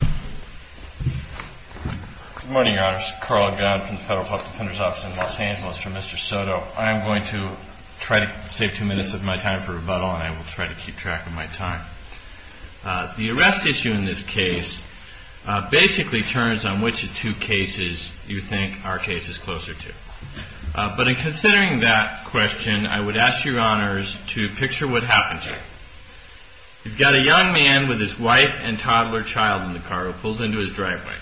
Good morning, Your Honors. Carl Augan from the Federal Health Defender's Office in Los Angeles for Mr. SOTO. I am going to try to save two minutes of my time for rebuttal and I will try to keep track of my time. The arrest issue in this case basically turns on which of two cases you think our case is closer to. But in considering that question, I would ask Your Honors to picture what happens. You've got a young man with his wife and toddler child in the car. He's been pulled into his driveway.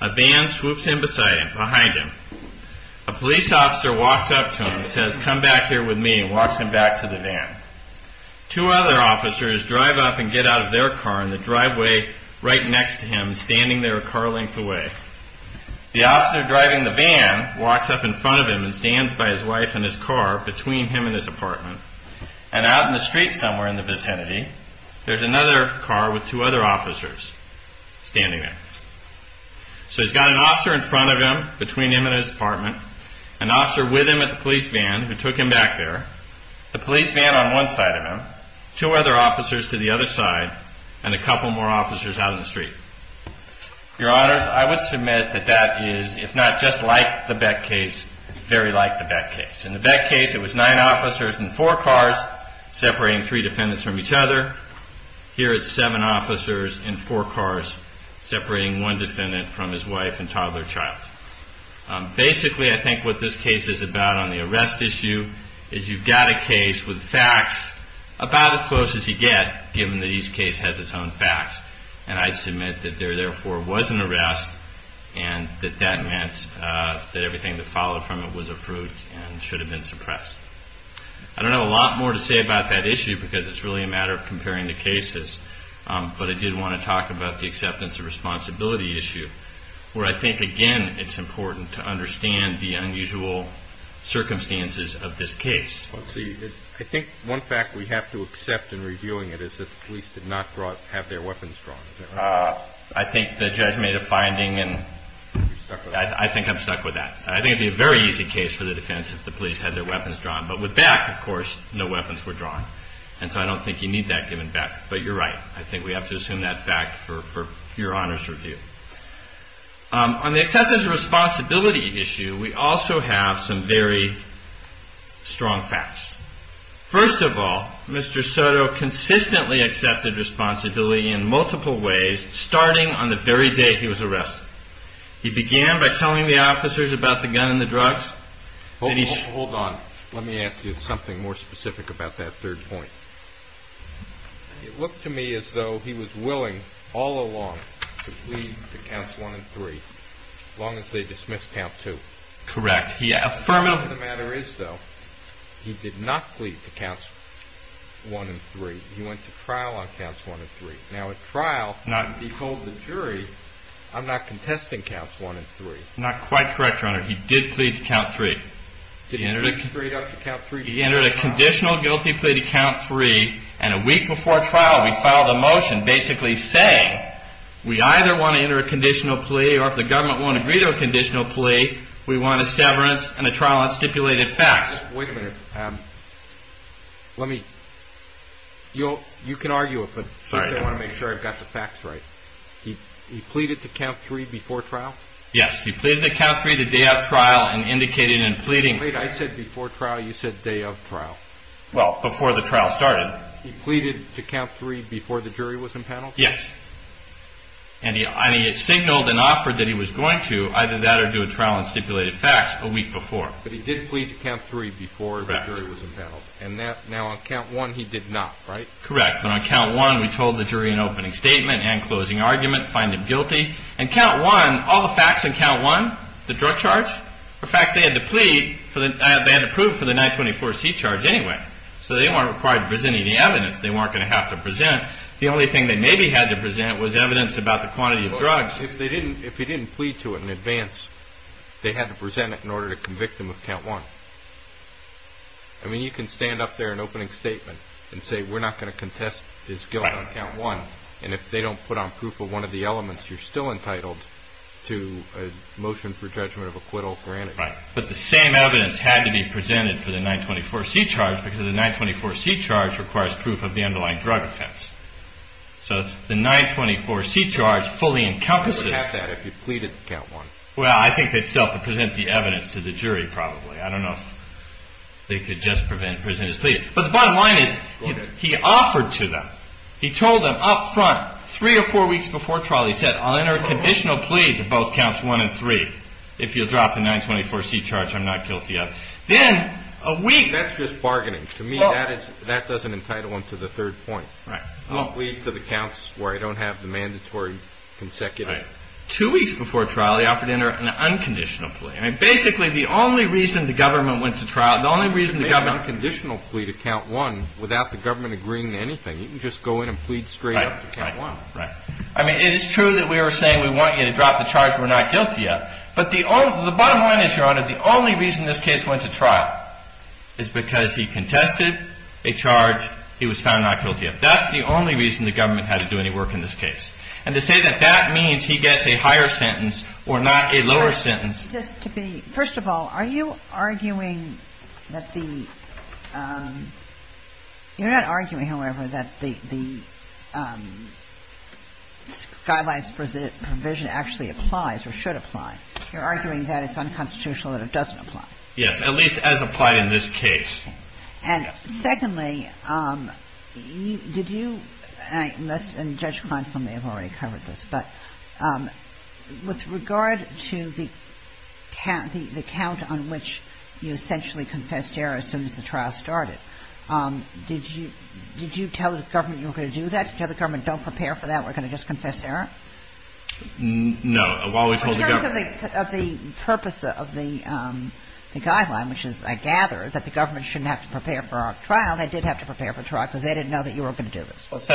A van swoops in behind him. A police officer walks up to him and says come back here with me and walks him back to the van. Two other officers drive up and get out of their car in the driveway right next to him, standing there a car length away. The officer driving the van walks up in front of him and stands by his wife and his car between him and his apartment. And out in the street somewhere in the vicinity, there's another car with two other officers. Standing there. So he's got an officer in front of him, between him and his apartment, an officer with him at the police van who took him back there, a police van on one side of him, two other officers to the other side, and a couple more officers out in the street. Your Honors, I would submit that that is, if not just like the Beck case, very like the Beck case. In the Beck case, it was nine officers in four cars separating three defendants from each other. Here it's seven officers in four cars separating one defendant from his wife and toddler child. Basically, I think what this case is about on the arrest issue is you've got a case with facts about as close as you get, given that each case has its own facts. And I submit that there therefore was an arrest and that that meant that everything that followed from it was a fruit and should have been suppressed. I don't have a lot more to say about that issue because it's really a matter of comparing the cases. But I did want to talk to you about the acceptance and responsibility issue where I think, again, it's important to understand the unusual circumstances of this case. I think one fact we have to accept in reviewing it is that the police did not have their weapons drawn. I think the judge made a finding and I think I'm stuck with that. I think it would be a very easy case for the defense if the police had their weapons drawn. But with Beck, of course, no weapons were drawn. And so I don't think you need that given Beck. But you're right. I think we have to assume that fact for your honor's review. On the acceptance and responsibility issue, we also have some very strong facts. First of all, Mr. Soto consistently accepted responsibility in multiple ways starting on the very day he was arrested. He began by telling the officers about the gun and the drugs. Hold on. Let me ask you something more specific about that third point. It looked to me as though he was willing all along to plead to counts 1 and 3 as long as they dismissed count 2. Correct. He affirmed... The fact of the matter is, though, he did not plead to counts 1 and 3. He went to trial on counts 1 and 3. Now at trial, he told the jury, I'm not contesting counts 1 and 3. Not quite correct, your honor. He did plead to count 3. He pleaded to count 3 before trial. He entered a conditional guilty plea to count 3. And a week before trial, we filed a motion basically saying we either want to enter a conditional plea or if the government won't agree to a conditional plea, we want a severance and a trial on stipulated facts. Wait a minute. You can argue it, but I want to make sure I've got the facts right. He pleaded to count 3 before trial? Yes. He pleaded to count 3 the day of trial and indicated in pleading... Wait. I said before trial. You said day of trial. Well, before the trial started. He pleaded to count 3 before the jury was impaneled? Yes. And he signaled and offered that he was going to either that or do a trial on stipulated facts a week before. But he did plead to count 3 before the jury was impaneled. And now on count 1, he did not, right? Correct. But on count 1, we told the jury in opening statement and closing argument, find him guilty. On count 1, all the facts on count 1, the drug charge, were facts they had to prove for the 924C charge anyway. So they weren't required to present any evidence. They weren't going to have to present. The only thing they maybe had to present was evidence about the quantity of drugs. If he didn't plead to it in advance, they had to present it in order to convict him of count 1. I mean, you can stand up there in opening statement and say we're not going to contest his guilt on count 1. And if they don't put on proof of one of the elements, you're still entitled to a motion for judgment of acquittal granted. Right. But the same evidence had to be presented for the 924C charge because the 924C charge requires proof of the underlying drug offense. So the 924C charge fully encompasses... You wouldn't have that if you pleaded to count 1. Well, I think they'd still have to present the evidence to the jury probably. But the bottom line is he offered to them. He told them up front three or four weeks before trial, he said I'll enter a conditional plea to both counts 1 and 3 if you'll drop the 924C charge I'm not guilty of. Then a week... That's just bargaining. To me, that doesn't entitle him to the third point. I'll plead to the counts where I don't have the mandatory consecutive... Two weeks before trial, he offered to enter an unconditional plea. I mean, basically the only reason the government went to trial, the only reason the government... Without the government agreeing to anything, you can just go in and plead straight up to count 1. I mean, it is true that we were saying we want you to drop the charge we're not guilty of, but the bottom line is, Your Honor, the only reason this case went to trial is because he contested a charge he was found not guilty of. That's the only reason the government had to do any work in this case. And to say that that means he gets a higher sentence or not a lower sentence... First of all, are you arguing that the... You're not arguing, however, that the guidelines provision actually applies or should apply. You're arguing that it's unconstitutional that it doesn't apply. Yes, at least as applied in this case. And secondly, did you... And Judge Kleinfeld may have already covered this, but... The count on which you essentially confessed error as soon as the trial started, did you tell the government you were going to do that? Did you tell the government, don't prepare for that, we're going to just confess error? No, while we told the government... In terms of the purpose of the guideline, which is, I gather, that the government shouldn't have to prepare for our trial, they did have to prepare for trial because they didn't know that you were going to do this.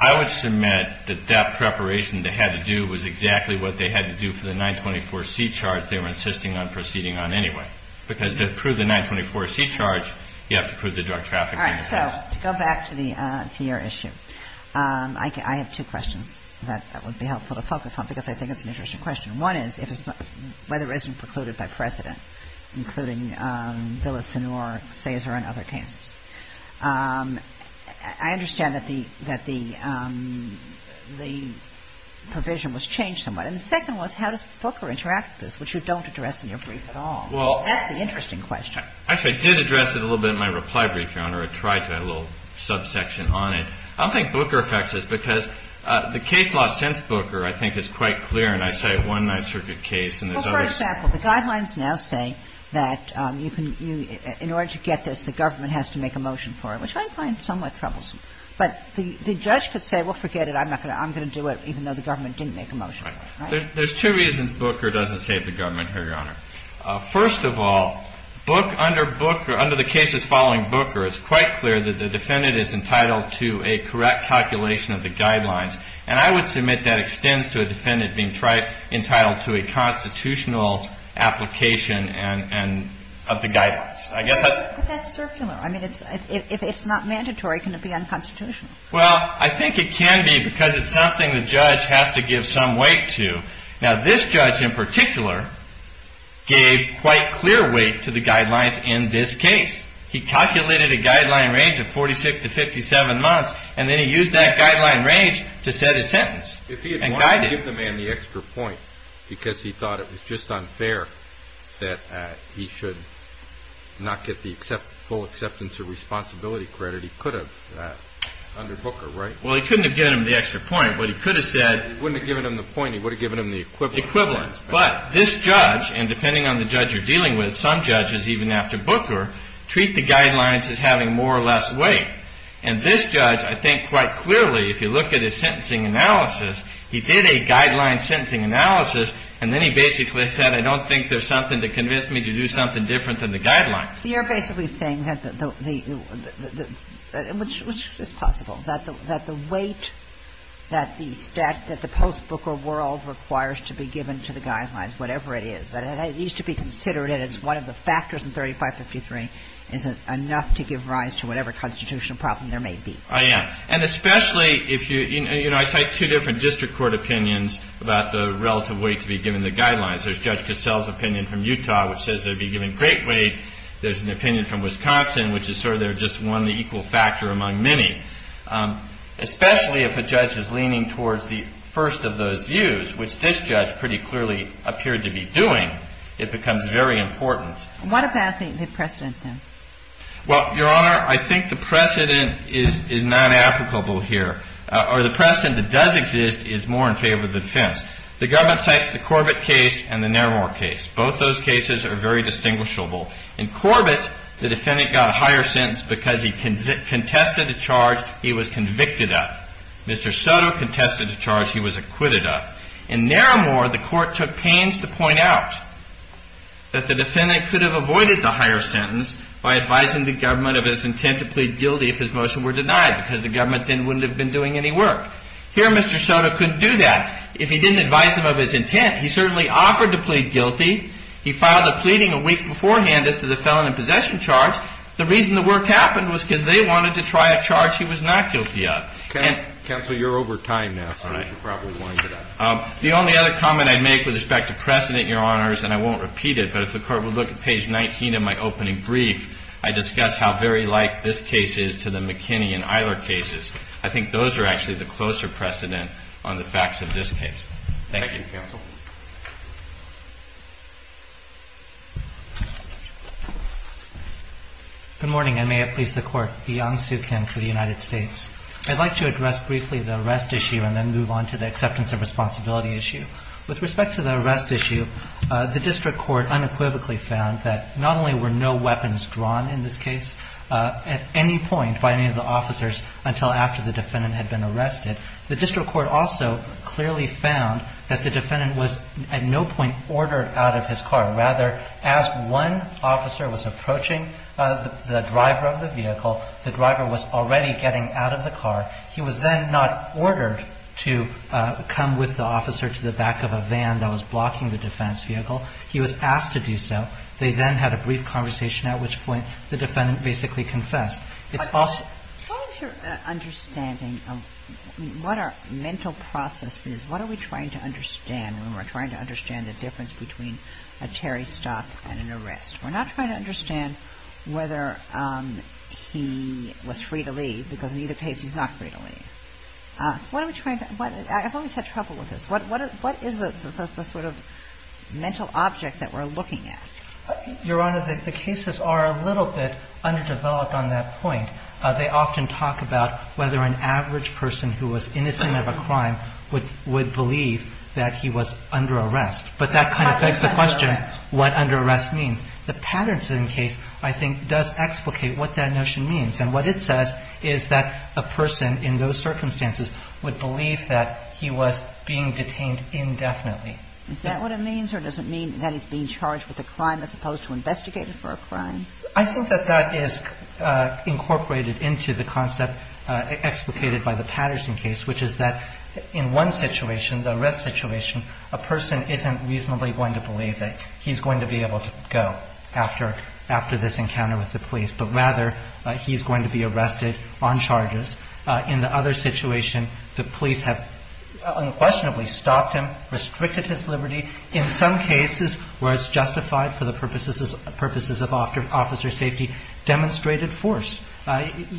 I would submit that that preparation they had to do was exactly what they had to do for the 924C charge they were insisting on proceeding on anyway. Because to prove the 924C charge, you have to prove the drug traffic... All right, so, to go back to your issue, I have two questions that would be helpful to focus on because I think it's an interesting question. One is, whether it isn't precluded by precedent, including Villasenor, Sazer, and other cases. I understand that the provision was changed somewhat. And the second was, how does Booker interact with this, which you don't address in your brief at all. That's the interesting question. Actually, I did address it a little bit in my reply brief, Your Honor. I tried to add a little subsection on it. I don't think Booker affects this because the case law since Booker, I think, is quite clear, and I cite one Ninth Circuit case and there's others... Well, for example, the guidelines now say that in order to get this, the government has to make a motion for it, which I find somewhat troublesome. But the judge could say, well, forget it, I'm going to do it, even though the government didn't make a motion for it, right? There's two reasons Booker doesn't save the government here, Your Honor. First of all, under the cases following Booker, it's quite clear that the defendant is entitled to a correct calculation of the guidelines. And I would submit that extends to a defendant being entitled to a constitutional application of the guidelines. But that's circular. I mean, if it's not mandatory, can it be unconstitutional? Well, I think it can be because it's something the judge has to give some weight to. Now, this judge in particular gave quite clear weight to the guidelines in this case. He calculated a guideline range of 46 to 57 months, and then he used that guideline range to set a sentence and guide it. If he had wanted to give the man the extra point because he thought it was just unfair that he should not get the full acceptance or responsibility credit, he could have done that under Booker, right? Well, he couldn't have given him the extra point, but he could have said... He wouldn't have given him the point. He would have given him the equivalent. Equivalent. But this judge, and depending on the judge you're dealing with, some judges, even after Booker, treat the guidelines as having more or less weight. And this judge, I think quite clearly, if you look at his sentencing analysis, he did a guideline sentencing analysis, and then he basically said, I don't think there's something to convince me to do something different than the guidelines. So you're basically saying that the... Which is possible. That the weight that the post-Booker world requires to be given to the guidelines, whatever it is, that it needs to be considered and it's one of the factors in 3553 is enough to give rise to whatever constitutional problem there may be. I am. And especially if you... You know, I cite two different district court opinions about the relative weight to be given the guidelines. There's Judge Cassell's opinion from Utah which says there'd be given great weight There's an opinion from Wisconsin which is sort of they're just one of the equal factor among many. Especially if a judge is leaning towards the first of those views, which this judge pretty clearly appeared to be doing, it becomes very important. What about the precedent then? Well, Your Honor, I think the precedent is not applicable here. Or the precedent that does exist is more in favor of the defense. The government cites the Corbett case and the Nairmor case. Both those cases are very distinguishable. In Corbett, the defendant got a higher sentence because he contested a charge he was convicted of. Mr. Soto contested a charge he was acquitted of. In Nairmor, the court took pains to point out that the defendant could have avoided the higher sentence by advising the government of his intent to plead guilty if his motion were denied because the government then wouldn't have been doing any work. Here, Mr. Soto couldn't do that. If he didn't advise them of his intent, he certainly offered to plead guilty. He filed a pleading a week beforehand as to the felon in possession charge. The reason the work happened was because they wanted to try a charge he was not guilty of. Counsel, you're over time now, so you should probably wind it up. The only other comment I'd make with respect to precedent, Your Honors, and I won't repeat it, but if the Court would look at page 19 of my opening brief, I discuss how very like this case is to the McKinney and Eiler cases. I think those are actually the closer precedent on the facts of this case. Thank you. Thank you, Counsel. Good morning, and may it please the Court. I'm Yang Soo Kim for the United States. I'd like to address briefly the arrest issue and then move on to the acceptance of responsibility issue. With respect to the arrest issue, the district court unequivocally found that not only were no weapons drawn in this case at any point by any of the officers until after the defendant had been arrested, the district court also clearly found that the defendant was at no point ordered out of his car. Rather, as one officer was approaching the driver of the vehicle, the driver was already getting out of the car. He was then not ordered to come with the officer to the back of a van that was blocking the defense vehicle. He was asked to do so. They then had a brief conversation at which point the defendant basically confessed. It's false. As far as your understanding of what our mental process is, what are we trying to understand when we're trying to understand the difference between a Terry stop and an arrest? We're not trying to understand whether he was free to leave because in either case he's not free to leave. What are we trying to – I've always had trouble with this. What is the sort of mental object that we're looking at? Your Honor, the cases are a little bit underdeveloped on that point. They often talk about whether an average person who was innocent of a crime would believe that he was under arrest. But that kind of begs the question what under arrest means. The Patterson case, I think, does explicate what that notion means. And what it says is that a person in those circumstances would believe that he was being detained indefinitely. Is that what it means or does it mean that he's being charged with a crime as opposed to investigated for a crime? I think that that is incorporated into the concept explicated by the Patterson case, which is that in one situation, the arrest situation, a person isn't reasonably going to believe that he's going to be able to go after this encounter with the police, but rather he's going to be arrested on charges. In the other situation, the police have unquestionably stopped him, restricted his liberty, in some cases where it's justified for the purposes of officer safety, demonstrated force.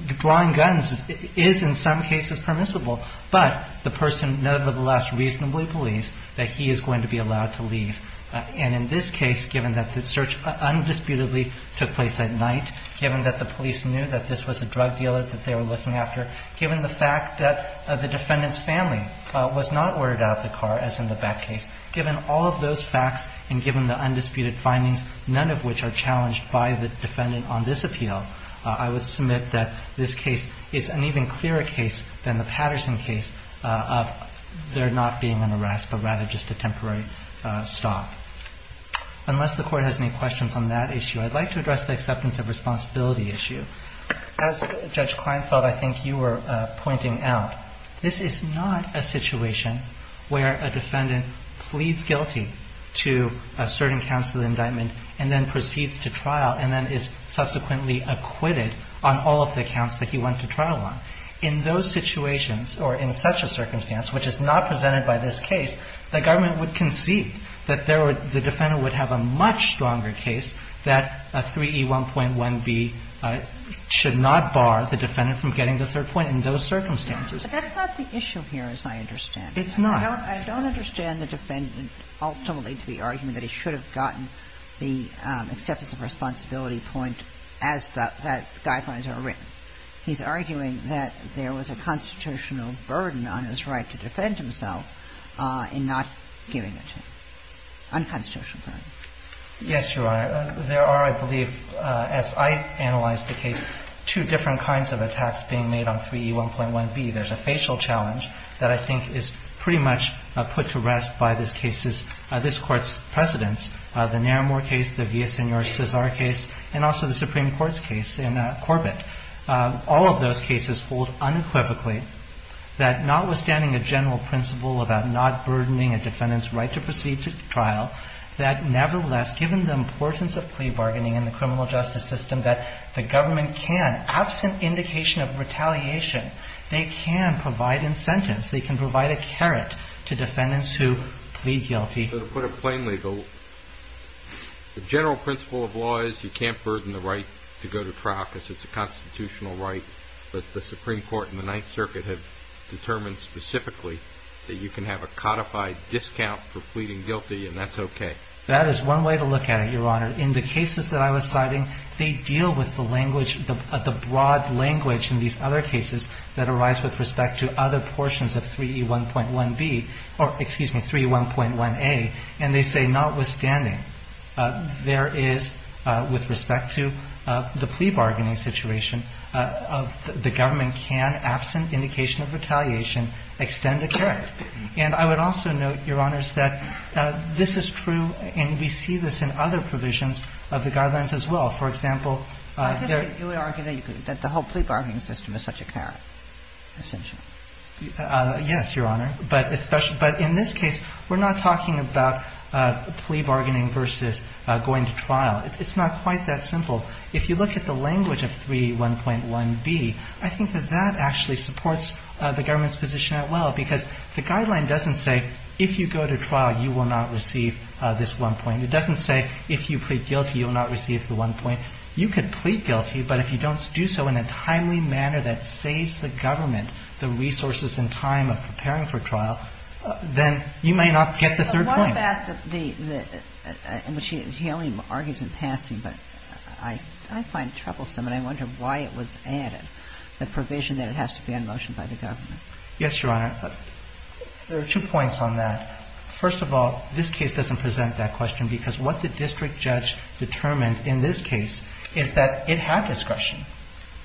Drawing guns is in some cases permissible, but the person nevertheless reasonably believes that he is going to be allowed to leave. And in this case, given that the search undisputedly took place at night, given that the police knew that this was a drug dealer that they were looking after, given the fact that the defendant's family was not ordered out of the car, as in the Black case, given all of those facts and given the undisputed findings, none of which are challenged by the defendant on this appeal, I would submit that this case is an even clearer case than the Patterson case of there not being an arrest, but rather just a temporary stop. Unless the Court has any questions on that issue, I'd like to address the acceptance of responsibility issue. As Judge Kleinfeld, I think you were pointing out, this is not a situation where a defendant pleads guilty to a certain counts of the indictment and then proceeds to trial and then is subsequently acquitted on all of the counts that he went to trial on. In those situations or in such a circumstance, which is not presented by this case, the government would concede that there would – the defendant would have a much stronger case that a 3E1.1b should not bar the defendant from getting the third point in those circumstances. But that's not the issue here, as I understand it. It's not. I don't understand the defendant ultimately to be arguing that he should have gotten the acceptance of responsibility point as the guidelines are written. He's arguing that there was a constitutional burden on his right to defend himself in not giving it to him, unconstitutional burden. Yes, Your Honor. There are, I believe, as I analyzed the case, two different kinds of attacks being made on 3E1.1b. There's a facial challenge that I think is pretty much put to rest by this case's – this Court's precedents, the Naramore case, the Villaseñor-Cesar case, and also the Supreme Court's case in Corbett. All of those cases hold unequivocally that notwithstanding a general principle about not burdening a defendant's right to proceed to trial, that nevertheless, given the importance of plea bargaining in the criminal justice system, that the defendant can provide incentives. They can provide a carrot to defendants who plead guilty. So to put it plainly, the general principle of law is you can't burden the right to go to trial because it's a constitutional right, but the Supreme Court and the Ninth Circuit have determined specifically that you can have a codified discount for pleading guilty, and that's okay. That is one way to look at it, Your Honor. In the cases that I was citing, they deal with the language, the broad language in these other cases that arise with respect to other portions of 3E1.1B or, excuse me, 3E1.1A, and they say, notwithstanding, there is, with respect to the plea bargaining situation, the government can, absent indication of retaliation, extend a carrot. And I would also note, Your Honors, that this is true, and we see this in other provisions of the guidelines as well. For example, there I guess you would argue that the whole plea bargaining system is such a carrot, essentially. Yes, Your Honor. But in this case, we're not talking about plea bargaining versus going to trial. It's not quite that simple. If you look at the language of 3E1.1B, I think that that actually supports the government's position as well, because the guideline doesn't say if you go to trial, you will not receive this one point. It doesn't say if you plead guilty, you will not receive the one point. You could plead guilty, but if you don't do so in a timely manner that saves the government the resources and time of preparing for trial, then you may not get the third point. But what about the – he only argues in passing, but I find it troublesome, and I wonder why it was added, the provision that it has to be on motion by the government. Yes, Your Honor. There are two points on that. First of all, this case doesn't present that question, because what the district judge determined in this case is that it had discretion.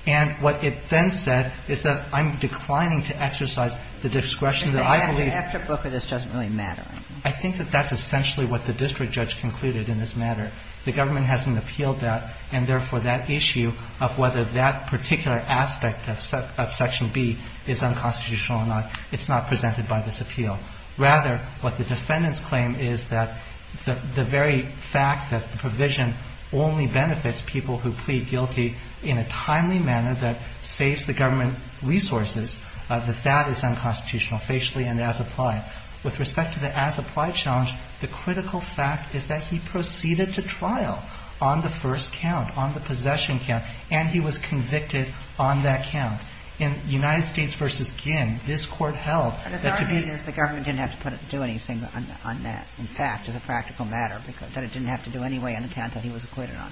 And what it then said is that I'm declining to exercise the discretion that I believe – But the afterbook of this doesn't really matter. I think that that's essentially what the district judge concluded in this matter. The government hasn't appealed that, and therefore, that issue of whether that particular aspect of Section B is unconstitutional or not, it's not presented by this appeal. Rather, what the defendants claim is that the very fact that the provision only benefits people who plead guilty in a timely manner that saves the government resources, that that is unconstitutional, facially and as applied. With respect to the as applied challenge, the critical fact is that he proceeded to trial on the first count, on the possession count, and he was convicted on that count. In United States v. Ginn, this Court held that to be – The government didn't have to put – do anything on that, in fact, as a practical matter, that it didn't have to do anyway on the count that he was acquitted on.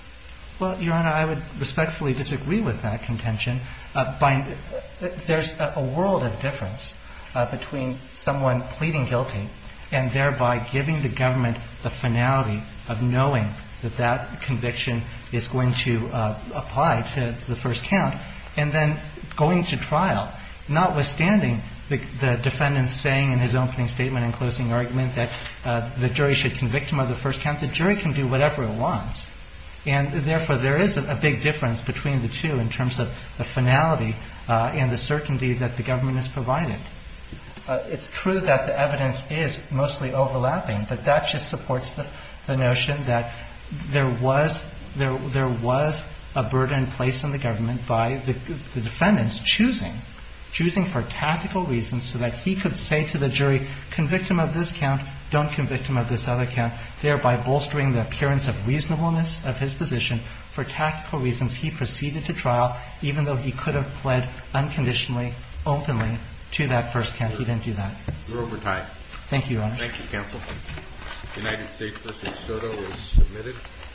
Well, Your Honor, I would respectfully disagree with that contention. There's a world of difference between someone pleading guilty and thereby giving the government the finality of knowing that that conviction is going to apply to the first count, and then going to trial, notwithstanding the defendant's saying in his own opening statement and closing argument that the jury should convict him of the first count. The jury can do whatever it wants. And, therefore, there is a big difference between the two in terms of the finality and the certainty that the government has provided. It's true that the evidence is mostly overlapping, but that just supports the notion that there was – there was a burden placed on the government by the defendants choosing – choosing for tactical reasons so that he could say to the jury, convict him of this count, don't convict him of this other count, thereby bolstering the appearance of reasonableness of his position. For tactical reasons, he proceeded to trial, even though he could have pled unconditionally, openly, to that first count. He didn't do that. You're over time. Thank you, Your Honor. Thank you, counsel. United States v. Soto is submitted.